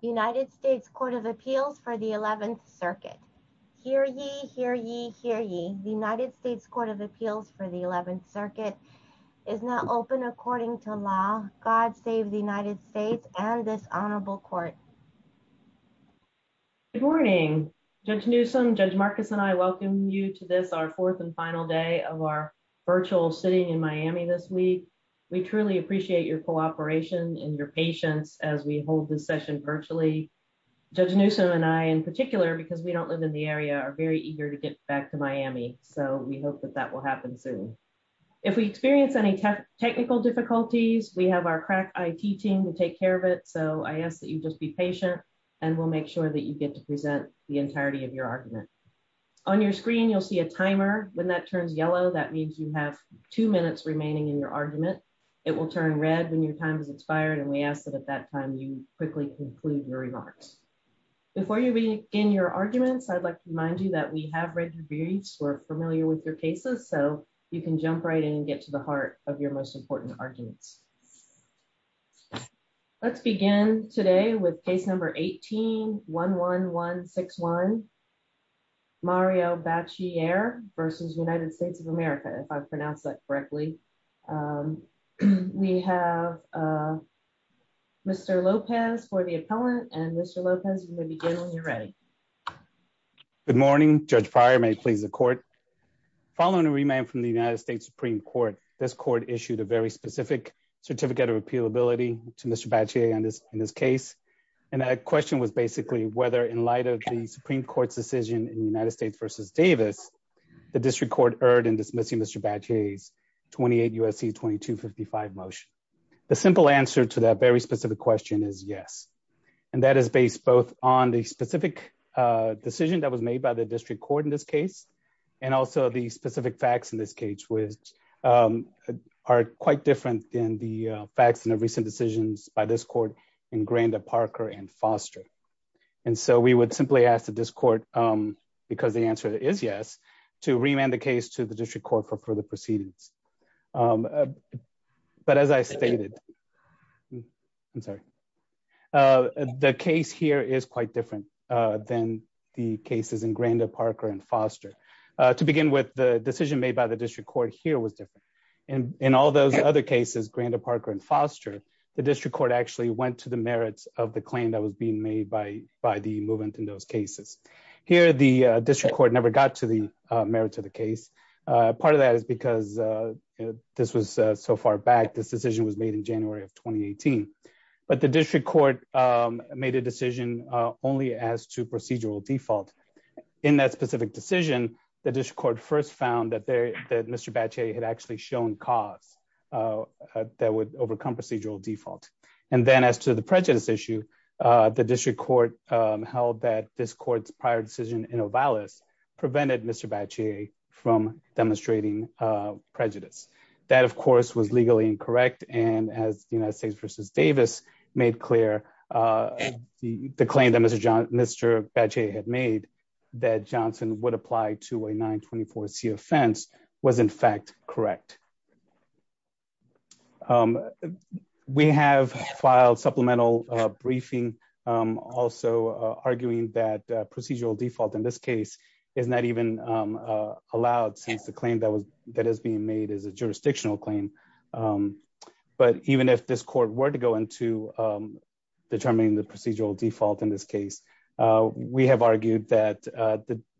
United States Court of Appeals for the 11th Circuit. Hear ye, hear ye, hear ye. The United States Court of Appeals for the 11th Circuit is now open according to law. God save the United States and this honorable court. Good morning. Judge Newsom, Judge Marcus and I welcome you to this, our fourth and final day of our virtual sitting in Miami this week. We truly appreciate your cooperation and your patience as we hold this session virtually. Judge Newsom and I in particular because we don't live in the area are very eager to get back to Miami so we hope that that will happen soon. If we experience any technical difficulties we have our crack IT team to take care of it so I ask that you just be patient and we'll make sure that you get to present the entirety of your argument. On your screen you'll see a timer when that turns yellow that means you have two minutes remaining in your argument. It will turn red when your time is expired and we ask that at that time you quickly conclude your remarks. Before you begin your arguments I'd like to remind you that we have read your briefs, we're familiar with your cases, so you can jump right in and get to the heart of your most important arguments. Let's begin today with case number 1811161 Mario Bacchiere versus United States of America if I've pronounced that correctly. We have Mr. Lopez for the appellant and Mr. Lopez you may begin when you're ready. Good morning Judge Pryor may please the court. Following a remand from the United States Supreme Court this court issued a very specific certificate of appealability to Mr. Bacchiere on this in this case and that question was basically whether in light of the Supreme Court's decision in United States versus Davis the district court erred in dismissing Mr. Bacchiere's 28 USC 2255 motion. The simple answer to that very specific question is yes and that is based both on the specific decision that was made by the district court in this case and also the specific facts in this case which are quite different than the facts in the recent decisions by this court in Granda, Parker and Foster and so we would simply ask that this court because the answer is yes to remand the case to the district court for further proceedings. But as I stated I'm sorry the case here is quite different than the cases in Granda, Parker and Foster. To begin with the court here was different and in all those other cases Granda, Parker and Foster the district court actually went to the merits of the claim that was being made by by the movement in those cases. Here the district court never got to the merit of the case. Part of that is because this was so far back this decision was made in January of 2018 but the district court made a decision only as to procedural default. In that specific decision the district court first found that Mr. Bache had actually shown cause that would overcome procedural default and then as to the prejudice issue the district court held that this court's prior decision in Ovalis prevented Mr. Bache from demonstrating prejudice. That of course was legally incorrect and as the United States versus Davis made clear the claim that Mr. Bache had made that Johnson would apply to a 924c offense was in fact correct. We have filed supplemental briefing also arguing that procedural default in this case is not even allowed since the claim that was that is being made is a jurisdictional claim. But even if this court were to go into determining the procedural default in this case we have argued that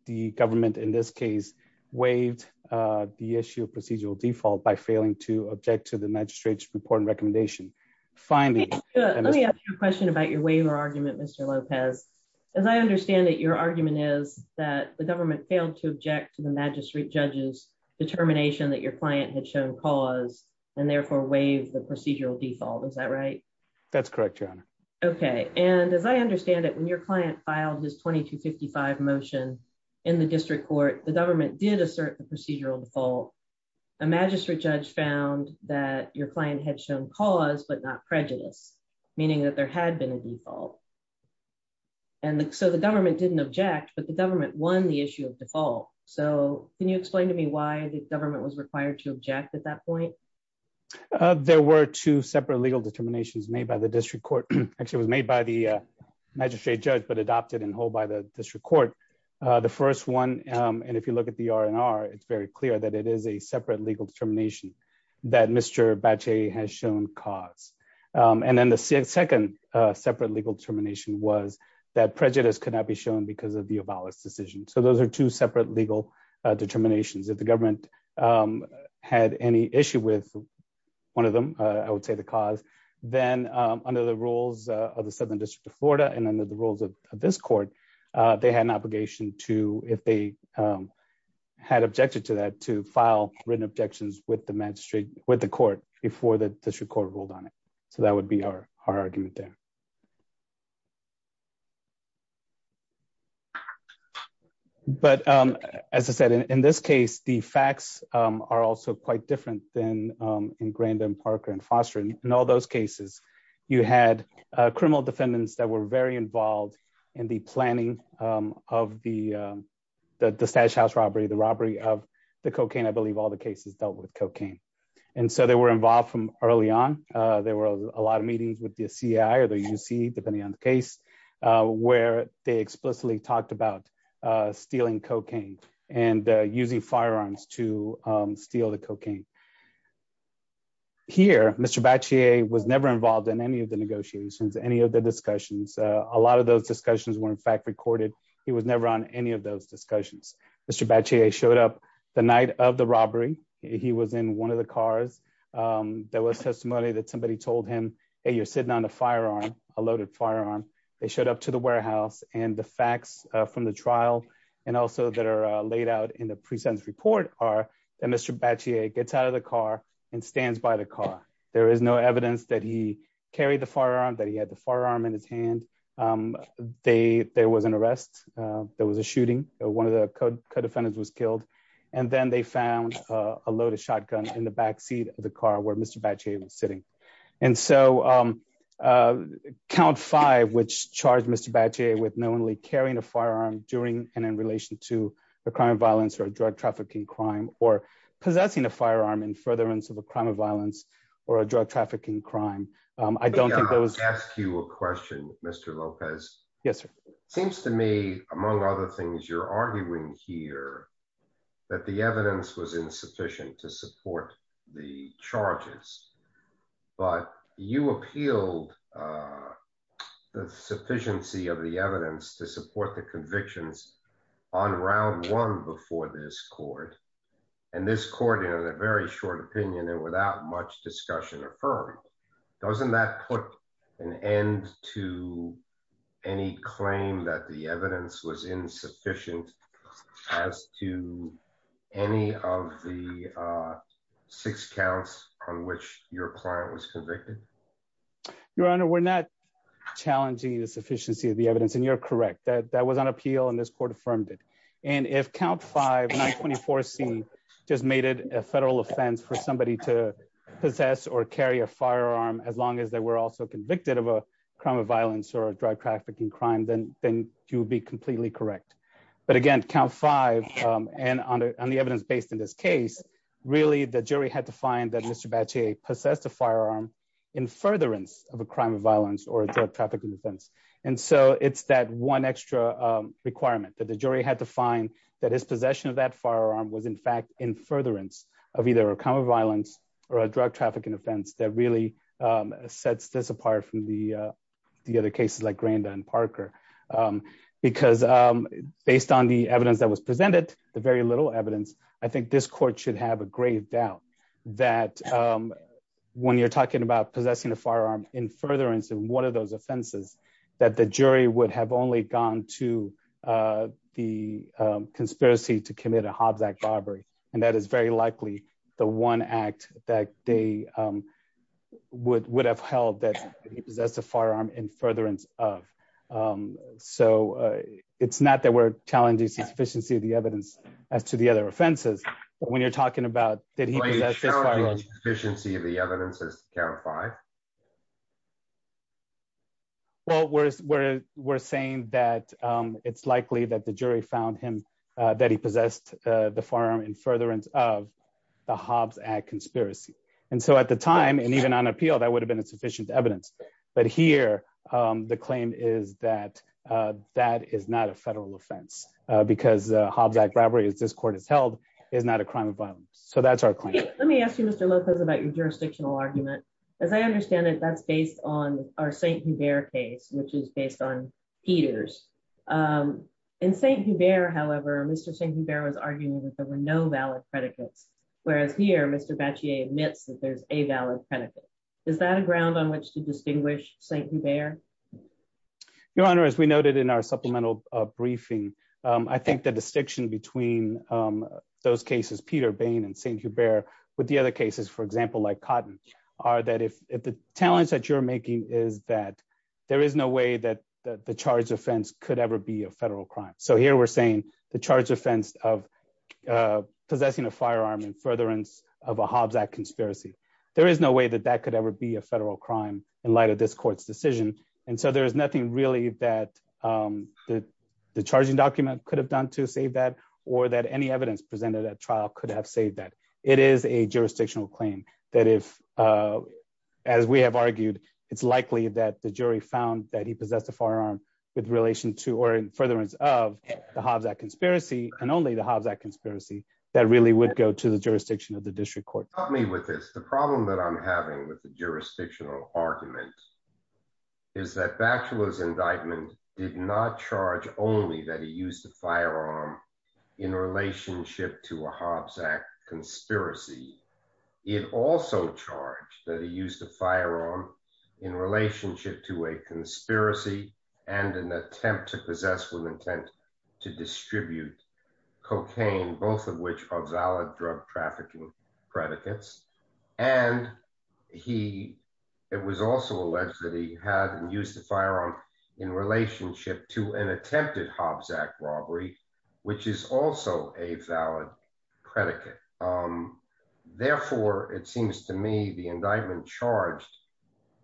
the government in this case waived the issue of procedural default by failing to object to the magistrate's report and recommendation. Finally let me ask you a question about your waiver argument Mr. Lopez. As I understand that your argument is that the government failed to object to the magistrate judge's determination that your client had shown cause and therefore waived the procedural default. Is that right? That's correct your honor. Okay and as I understand it when your client filed his 2255 motion in the district court the government did assert the procedural default. A magistrate judge found that your client had shown cause but not prejudice meaning that there had been a default and so the government didn't object but the government won the issue of default. So can you explain to me why the government was required to object at that point? There were two separate legal determinations made by the district court. Actually it was made by the magistrate judge but adopted and held by the district court. The first one and if you look at the R&R it's very clear that it is a separate legal determination that Mr. Bache has shown cause. And then the second separate legal determination was that prejudice could not be shown because of the abolished decision. So those are two separate legal determinations. If the government had any issue with one of them I would say the cause then under the rules of the southern district of Florida and under the rules of this court they had an obligation to if they had objected to that to file written objections with the magistrate with the court before the district court ruled on it. So that would be our argument there. But as I said in this case the facts are also quite different than in Grandin, Parker and Foster. In all those cases you had criminal defendants that were very involved in the planning of the Stash House robbery, the robbery of the cocaine. I believe all the cases dealt with cocaine. And so they were involved from early on. There were a lot of about stealing cocaine and using firearms to steal the cocaine. Here Mr. Bache was never involved in any of the negotiations, any of the discussions. A lot of those discussions were in fact recorded. He was never on any of those discussions. Mr. Bache showed up the night of the robbery. He was in one of the cars. There was testimony that somebody told him, hey you're sitting on a firearm, a loaded firearm. They showed up to the warehouse. And the facts from the trial and also that are laid out in the pre-sentence report are that Mr. Bache gets out of the car and stands by the car. There is no evidence that he carried the firearm, that he had the firearm in his hand. There was an arrest. There was a shooting. One of the co-defendants was killed. And then they found a loaded shotgun in the back seat of the car where Mr. Bache was sitting. And so count five which charged Mr. Bache with knowingly carrying a firearm during and in relation to a crime of violence or a drug trafficking crime or possessing a firearm in furtherance of a crime of violence or a drug trafficking crime. I don't think that was... Let me ask you a question Mr. Lopez. Yes sir. Seems to me among other things you're arguing here that the evidence was insufficient to support the charges. But you appealed the sufficiency of the evidence to support the convictions on round one before this court. And this court in a very short opinion and without much discussion affirmed. Doesn't that put an end to any claim that the evidence was insufficient as to any of the six counts on which your client was convicted? Your honor we're not challenging the sufficiency of the evidence and you're correct that that was on appeal and this court affirmed it. And if count five 924c just made it a federal offense for somebody to possess or carry a firearm as long as they were also convicted of a crime of violence or a drug trafficking crime then you would be completely correct. But again count five and on the evidence based in this case really the jury had to find that Mr. Bache possessed a firearm in furtherance of a crime of violence or a drug trafficking offense. And so it's that one extra requirement that the jury had to find that his possession of that firearm was in fact in furtherance of either a crime of violence or a drug trafficking offense that really sets this apart from the other cases like Granda and Parker. Because based on the evidence that was presented the very little evidence I think this court should have a grave doubt that when you're talking about possessing a firearm in furtherance of one of those offenses that the jury would have only gone to the conspiracy to commit a Hobbs Act robbery. And that is very likely the one act that they would have held that he possessed a firearm in furtherance of. So it's not that we're challenging sufficiency of the evidence as to the other offenses but when you're talking about that he possessed this firearm... Are you challenging sufficiency of the evidence as to count five? Well we're saying that it's likely that the jury found him that he possessed the firearm in furtherance of the Hobbs Act conspiracy. And so at the time and even on appeal that would have been a sufficient evidence. But here the claim is that that is not a federal offense because Hobbs Act robbery as this court has held is not a crime of violence. So that's our claim. Let me ask you Mr. Lopez about your jurisdictional argument. As I understand it that's based on our St. Hubert case which is based on Peters. In St. Hubert however Mr. St. Hubert was arguing that there were no valid predicates. Whereas here Mr. Batchier admits that there's a valid predicate. Is that a ground on which to distinguish St. Hubert? Your honor as we noted in our supplemental briefing I think the distinction between those cases Peter Bain and St. Hubert with the other cases for example like Cotton are that if the challenge that you're making is that there is no way that the charge offense could ever be a federal crime. So here we're the charge offense of possessing a firearm in furtherance of a Hobbs Act conspiracy. There is no way that that could ever be a federal crime in light of this court's decision. And so there's nothing really that the charging document could have done to save that or that any evidence presented at trial could have saved that. It is a jurisdictional claim that if as we have argued it's likely that the jury found that he possessed a firearm with relation to or in furtherance of the Hobbs Act conspiracy and only the Hobbs Act conspiracy that really would go to the jurisdiction of the district court. Help me with this. The problem that I'm having with the jurisdictional argument is that Batchelor's indictment did not charge only that he used a firearm in relationship to a Hobbs Act conspiracy. It also charged that he used a firearm in an attempt to possess with intent to distribute cocaine, both of which are valid drug trafficking predicates. And it was also alleged that he had used the firearm in relationship to an attempted Hobbs Act robbery, which is also a valid predicate. Therefore, it seems to me the indictment charged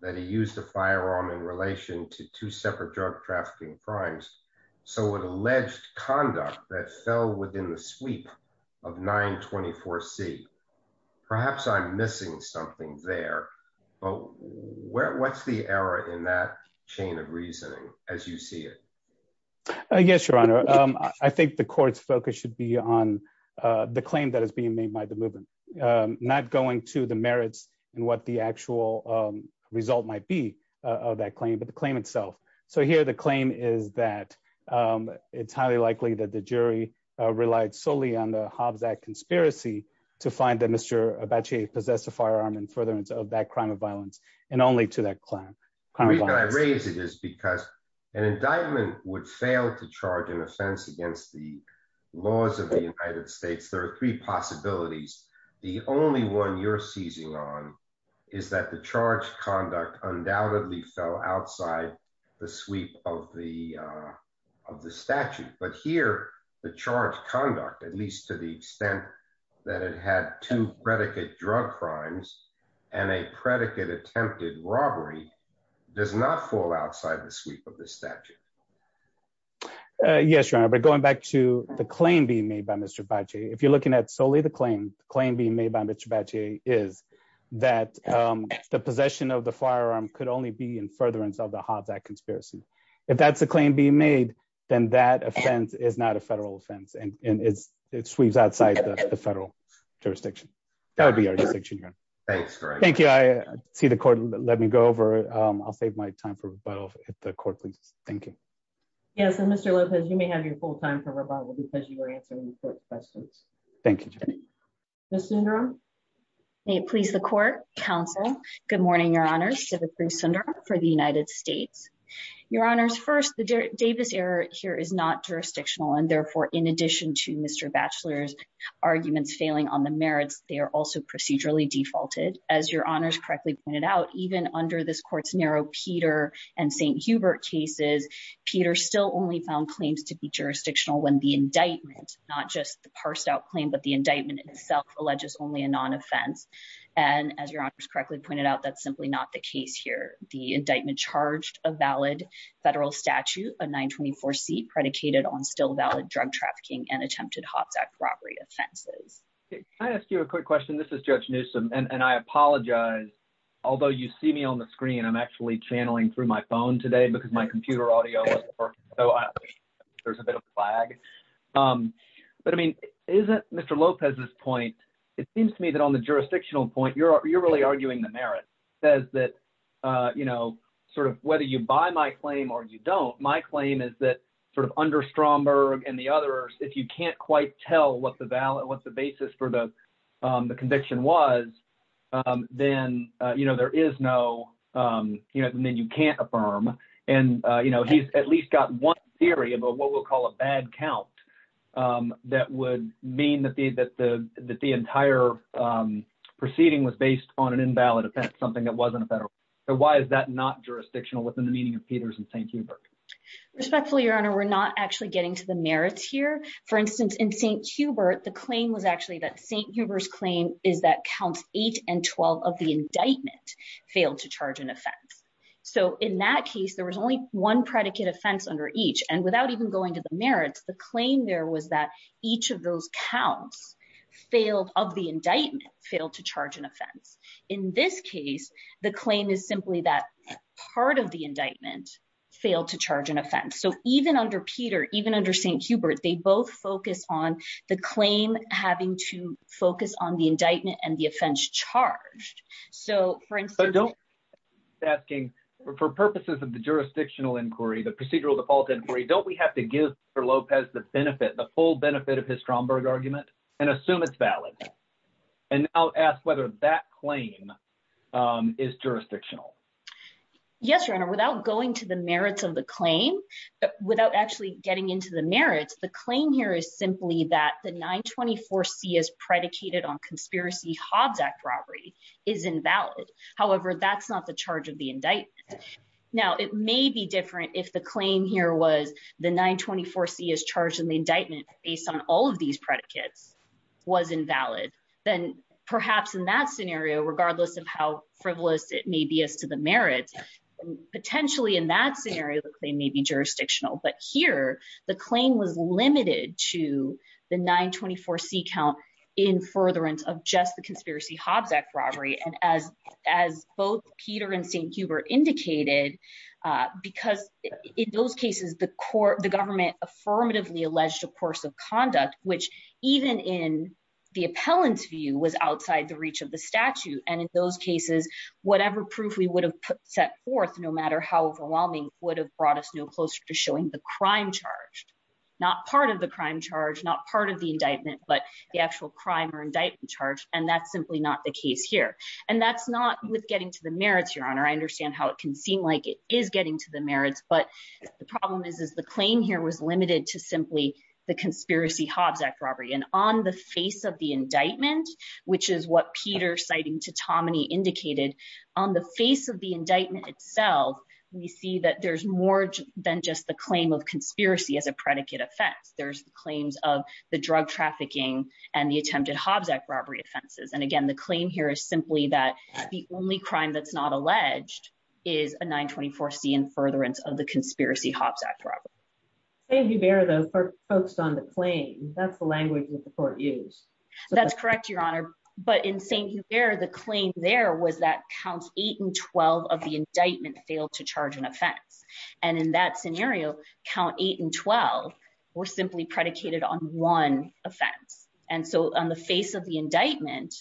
that he used a firearm in relation to two separate drug trafficking crimes. So an alleged conduct that fell within the sweep of 924 C perhaps I'm missing something there. But what's the error in that chain of reasoning as you see it? Yes, your honor. I think the court's focus should be on the claim that is being made by the movement, not going to the merits and what the actual result might be of that claim, but the claim itself. So here, the claim is that it's highly likely that the jury relied solely on the Hobbs Act conspiracy to find that Mr. Batchelor possessed a firearm in furtherance of that crime of violence and only to that claim. The reason I raise it is because an indictment would fail to charge an offense against the United States. There are three possibilities. The only one you're seizing on is that the charge conduct undoubtedly fell outside the sweep of the of the statute. But here, the charge conduct, at least to the extent that it had two predicate drug crimes and a predicate attempted robbery does not fall outside the sweep of the statute. Uh, yes, your honor. But going back to the claim being made by Mr. Batchelor, if you're looking at solely the claim, the claim being made by Mr. Batchelor is that, um, the possession of the firearm could only be in furtherance of the Hobbs Act conspiracy. If that's the claim being made, then that offense is not a federal offense and it's, it sweeps outside the federal jurisdiction. That would be our distinction here. Thanks. Thank you. I see the court. Let me go over. Um, I'll save my time for rebuttal at the court. Please. Thank you. Yes. And Mr. Lopez, you may have your full time for rebuttal because you were answering the court questions. Thank you. Ms. Sundaram. May it please the court, counsel. Good morning, your honors. Debra Cruz Sundaram for the United States. Your honors. First, the Davis error here is not jurisdictional. And therefore, in addition to Mr. Batchelor's arguments failing on the as your honors correctly pointed out, even under this court's narrow Peter and St. Hubert cases, Peter still only found claims to be jurisdictional when the indictment, not just the parsed out claim, but the indictment itself alleges only a non-offense. And as your honors correctly pointed out, that's simply not the case here. The indictment charged a valid federal statute, a nine 24 seat predicated on still valid drug trafficking and attempted offenses. Can I ask you a quick question? This is Judge Newsome. And I apologize. Although you see me on the screen, I'm actually channeling through my phone today because my computer audio there's a bit of a flag. Um, but I mean, isn't Mr. Lopez's point. It seems to me that on the jurisdictional point, you're, you're really arguing the merit says that, uh, you know, sort of whether you buy my claim or you don't. My claim is that sort of under Stromberg and the if you can't quite tell what the ballot, what's the basis for the, um, the conviction was, um, then, uh, you know, there is no, um, you know, and then you can't affirm and, uh, you know, he's at least got one theory about what we'll call a bad count. Um, that would mean that the, that the, that the entire, um, proceeding was based on an invalid offense, something that wasn't a federal. So why is that not jurisdictional within the meaning of Peters and St. Respectfully, your honor, we're not actually getting to the merits here. For instance, in St. Hubert, the claim was actually that St. Hubert's claim is that counts eight and 12 of the indictment failed to charge an offense. So in that case, there was only one predicate offense under each. And without even going to the merits, the claim there was that each of those counts failed of the indictment failed to charge an offense. In this case, the claim is simply that part of the indictment failed to charge an offense. So even under Peter, even under St. Hubert, they both focus on the claim having to focus on the indictment and the offense charged. So for instance, asking for purposes of the jurisdictional inquiry, the procedural default inquiry, don't we have to give for Lopez the benefit, the full benefit of his balance? And I'll ask whether that claim is jurisdictional. Yes, your honor, without going to the merits of the claim, without actually getting into the merits, the claim here is simply that the 924 C is predicated on conspiracy Hobbs Act robbery is invalid. However, that's not the charge of the indictment. Now, it may be different if the claim here was the 924 C is charged in the merits is invalid, then perhaps in that scenario, regardless of how frivolous it may be as to the merits, potentially in that scenario, they may be jurisdictional. But here, the claim was limited to the 924 C count in furtherance of just the conspiracy Hobbs Act robbery. And as, as both Peter and St. Hubert indicated, because in those cases, the court the government affirmatively alleged a course of conduct, which even in the appellant's view was outside the reach of the statute. And in those cases, whatever proof we would have set forth, no matter how overwhelming would have brought us no closer to showing the crime charged, not part of the crime charge, not part of the indictment, but the actual crime or indictment charge. And that's simply not the case here. And that's not with getting to the merits, Your Honor, I understand how it can seem like it is getting to the merits. But the problem is, is the claim here was limited to simply the conspiracy Hobbs Act robbery. And on the face of the indictment, which is what Peter citing to Tommany indicated, on the face of the indictment itself, we see that there's more than just the claim of conspiracy as a predicate offense, there's the claims of the drug trafficking, and the attempted Hobbs Act robbery offenses. And again, the claim here is simply that the only crime that's not alleged is a 924 C and furtherance of the conspiracy Hobbs Act robbery. Thank you bear those folks on the claim. That's the language that the court use. That's correct, Your Honor. But in St. Hubert, the claim there was that counts eight and 12 of the indictment failed to charge an offense. And in that scenario, count eight and 12, were simply predicated on one offense. And so on the face of the indictment,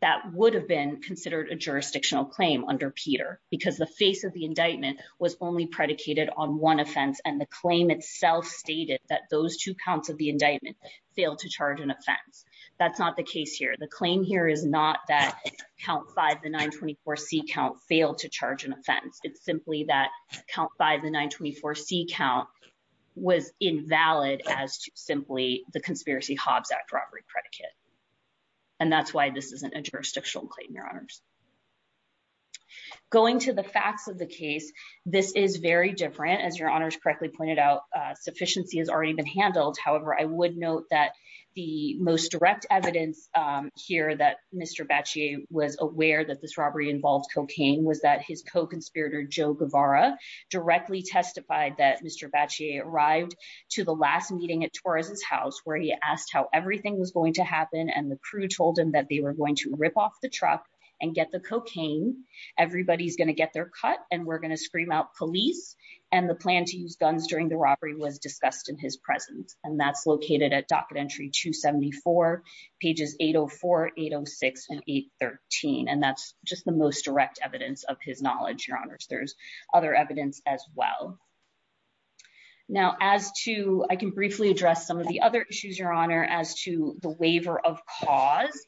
that would have been considered a jurisdictional claim under Peter, because the face of the indictment was only predicated on one offense. And the claim itself stated that those two counts of the indictment failed to charge an offense. That's not the case here. The claim here is not that count five, the 924 C count failed to charge an offense. It's simply that count by the 924 C count was invalid as simply the conspiracy Hobbs Act robbery predicate. And that's why this isn't a jurisdictional claim, Your Honors. Going to the facts of the case, this is very different. As Your Honors correctly pointed out, sufficiency has already been handled. However, I would note that the most direct evidence here that Mr. Bacci was aware that this robbery involved cocaine was that his co-conspirator Joe Guevara directly testified that Mr. Bacci arrived to the last meeting at Torres's house where he asked how everything was going to happen. And the crew told him that they were going to rip off the truck and get the cocaine. Everybody's going to get their cut and we're going to scream out police. And the plan to use guns during the robbery was discussed in his presence. And that's located at docket entry 274 pages 804, 806 and 813. And that's just the most direct evidence of his as well. Now as to, I can briefly address some of the other issues, Your Honor, as to the waiver of cause.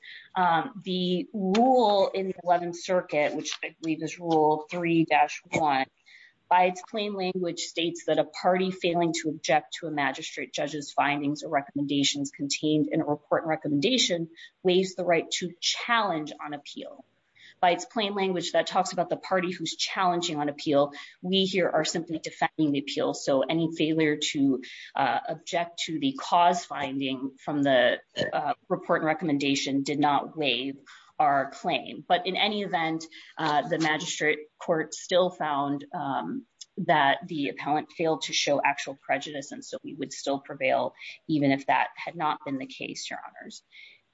The rule in the 11th circuit, which I believe is rule three dash one by its plain language states that a party failing to object to a magistrate judge's findings or recommendations contained in a report and recommendation weighs the right to challenge on appeal by its plain that talks about the party who's challenging on appeal. We here are simply defending the appeal. So any failure to object to the cause finding from the report and recommendation did not waive our claim. But in any event the magistrate court still found that the appellant failed to show actual prejudice. And so we would still prevail even if that had not been the case, Your Honors.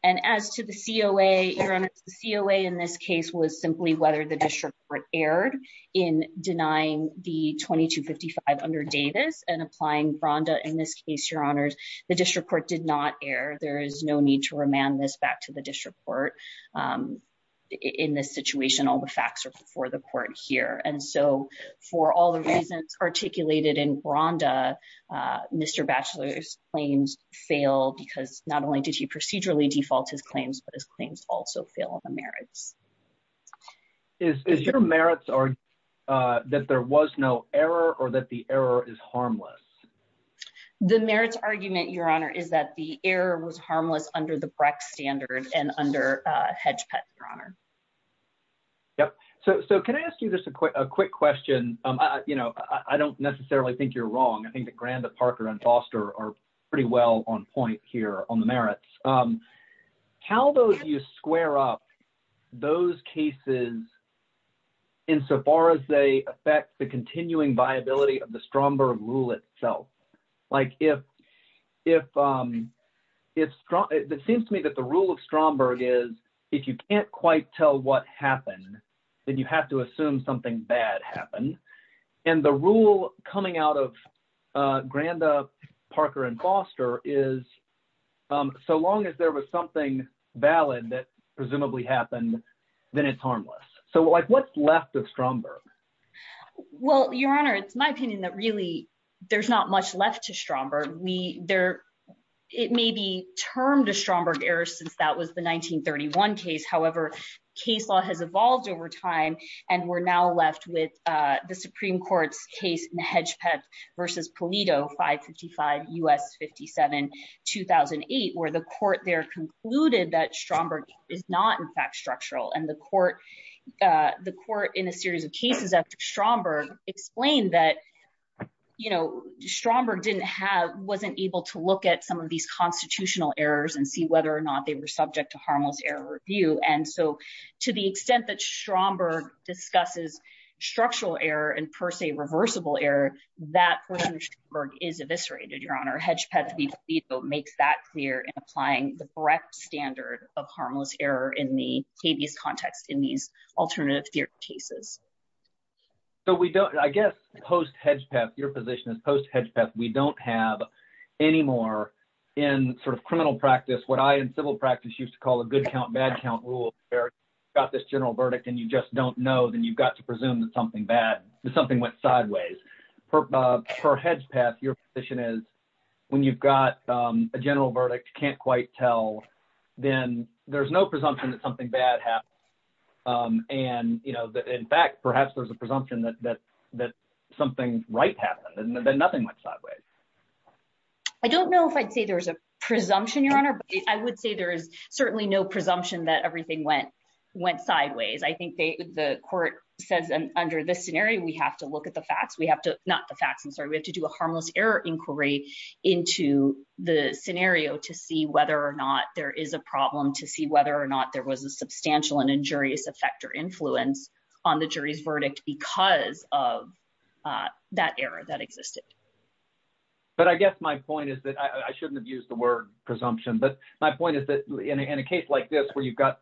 And as to the COA, Your Honors, the COA in this case was simply whether the district court erred in denying the 2255 under Davis and applying Branda. In this case, Your Honors, the district court did not err. There is no need to remand this back to the district court in this situation. All the facts are before the court here. And so for all the reasons articulated in Branda, Mr. Batchelor's claims failed because not only did he procedurally default his claims, but his claims also fail on the merits. Is your merits that there was no error or that the error is harmless? The merits argument, Your Honor, is that the error was harmless under the Brecht standard and under Hedge Pet, Your Honor. Yep. So can I ask you just a quick question? I don't necessarily think you're wrong. I think that Branda, Parker, and Foster are pretty well on point here on the merits. How do you square up those cases insofar as they affect the continuing viability of the Stromberg rule itself? It seems to me that the rule of Stromberg is if you can't quite tell what happened, then you have to assume something bad happened. And the rule coming out of Branda, Parker, and Foster is so long as there was something valid that presumably happened, then it's harmless. So what's left of Stromberg? Well, Your Honor, it's my opinion that really there's not much left to Stromberg. It may be termed a Stromberg error since that was the 1931 case. However, case law has evolved over time, and we're now left with the Supreme Court's case in the Hedge Pet versus Polito 555 U.S. 57 2008, where the court there concluded that Stromberg is not in fact structural. And the court in a series of cases after Stromberg explained that Stromberg wasn't able to look at some of these constitutional errors and see whether or not they were subject to harmless error review. And so, to the extent that Stromberg discusses structural error and per se reversible error, that court under Stromberg is eviscerated, Your Honor. Hedge Pet v. Polito makes that clear in applying the correct standard of harmless error in the habeas context in these alternative theory cases. So we don't, I guess, post Hedge Pet, your position is post Hedge Pet, we don't have any more in sort of criminal practice, what I in civil practice used to call a good count, bad count rule, where you've got this general verdict and you just don't know, then you've got to presume that something bad, something went sideways. For Hedge Pet, your position is when you've got a general verdict, can't quite tell, then there's no presumption that something bad happened. And, you know, in fact, perhaps there's a presumption that something right happened and then nothing went sideways. I think the court says under this scenario, we have to look at the facts, we have to, not the facts, I'm sorry, we have to do a harmless error inquiry into the scenario to see whether or not there is a problem, to see whether or not there was a substantial and injurious effect or influence on the jury's verdict because of that error that existed. But I guess my point is that I shouldn't have used the word presumption, but my point is that in a case like this, where you've got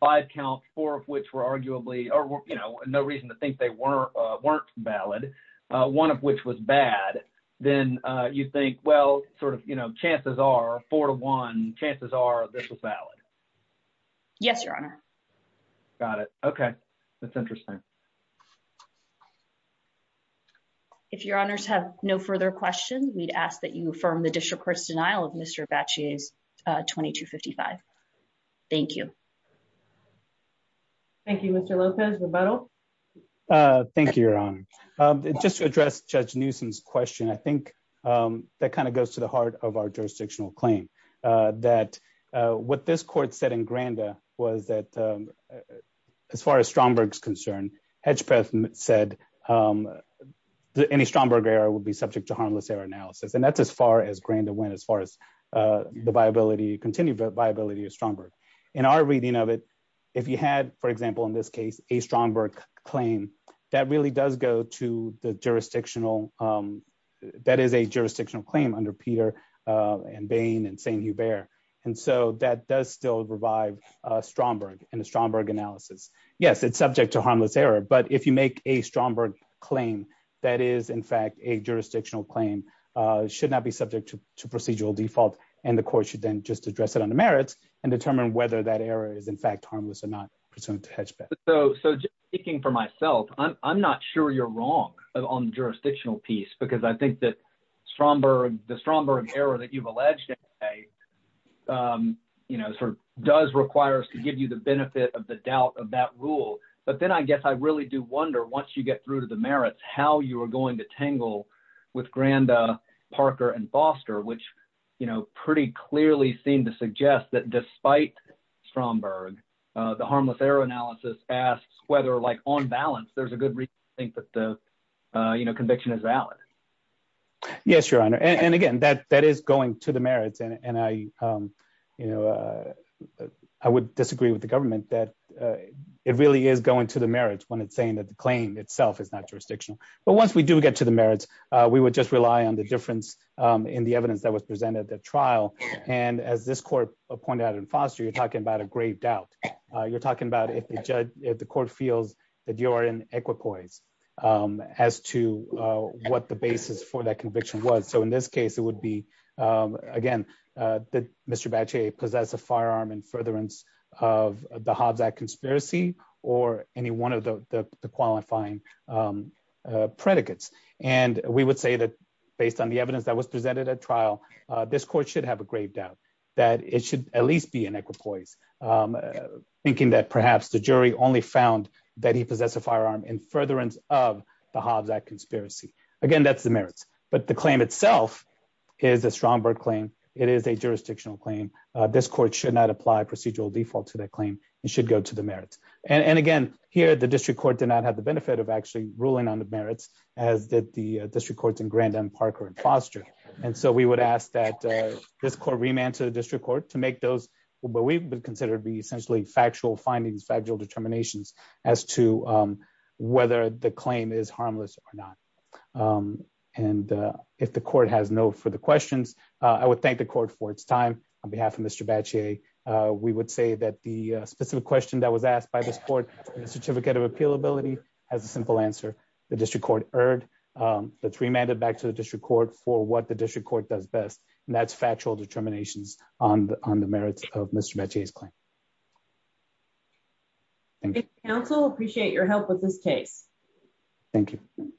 five counts, four of which were arguably, or, you know, no reason to think they weren't valid, one of which was bad, then you think, well, sort of, you know, chances are, four to one, chances are this was valid. Yes, Your Honor. Got it. Okay. That's interesting. If Your Honors have no further questions, we'd ask that you affirm the district court's denial of Mr. Abbacchi's 2255. Thank you. Thank you, Mr. Lopez, rebuttal? Thank you, Your Honor. Just to address Judge Newsom's question, I think that kind of goes to the heart of our jurisdictional claim, that what this court said in Granda was that, as far as Stromberg's concerned, Hedgpeth said that any Stromberg error would be subject to harmless error analysis. And that's as far as Granda went, as far as the viability, continued viability of Stromberg. In our reading of it, if you had, for example, in this case, a Stromberg claim, that really does go to the jurisdictional, that is a jurisdictional claim under Peter and Bain and St. Hubert. And so that does still revive Stromberg and the Stromberg analysis. Yes, it's subject to harmless error. But if you make a Stromberg claim, that is, in fact, a jurisdictional claim, should not be subject to procedural default. And the court should then just address it on the merits and determine whether that error is, in fact, harmless or not pursuant to Hedgpeth. So speaking for myself, I'm not sure you're wrong on the jurisdictional piece, because I think that Stromberg, the Stromberg error that you've alleged today, you know, sort of does require us to give you the benefit of the doubt of that rule. But then I guess I really do wonder, once you get through to the merits, how you are going to tangle with Granda, Parker, and Foster, which, you know, pretty clearly seem to suggest that despite Stromberg, the harmless error analysis asks whether, like, on balance, there's a good reason that the, you know, conviction is valid. Yes, Your Honor. And again, that is going to the merits. And I, you know, I would disagree with the government that it really is going to the merits when it's saying that the claim itself is not jurisdictional. But once we do get to the merits, we would just rely on the difference in the evidence that was presented at trial. And as this court pointed out in Foster, you're talking about a grave doubt. You're talking about if the court feels that you're in equipoise as to what the basis for that conviction was. So, in this case, it would be, again, that Mr. Bache possess a firearm in furtherance of the Hobbs Act conspiracy or any one of the qualifying predicates. And we would say that based on the evidence that was presented at trial, this court should have a grave doubt that it should at least be in equipoise, thinking that perhaps the jury only found that he possess a firearm in furtherance of the Hobbs Act conspiracy. Again, that's the merits. But the claim itself is a Stromberg claim. It is a jurisdictional claim. This court should not apply procedural default to that claim. It should go to the merits. And again, here, the district court did not have the benefit of actually ruling on the merits, as did the district courts in this court remand to the district court to make those what we would consider to be essentially factual findings, factual determinations as to whether the claim is harmless or not. And if the court has no further questions, I would thank the court for its time. On behalf of Mr. Bache, we would say that the specific question that was asked by this court in the certificate of appealability has a simple answer. The district court erred. That's remanded back to district court for what the district court does best. And that's factual determinations on the merits of Mr. Bache's claim. Counsel, appreciate your help with this case. Thank you.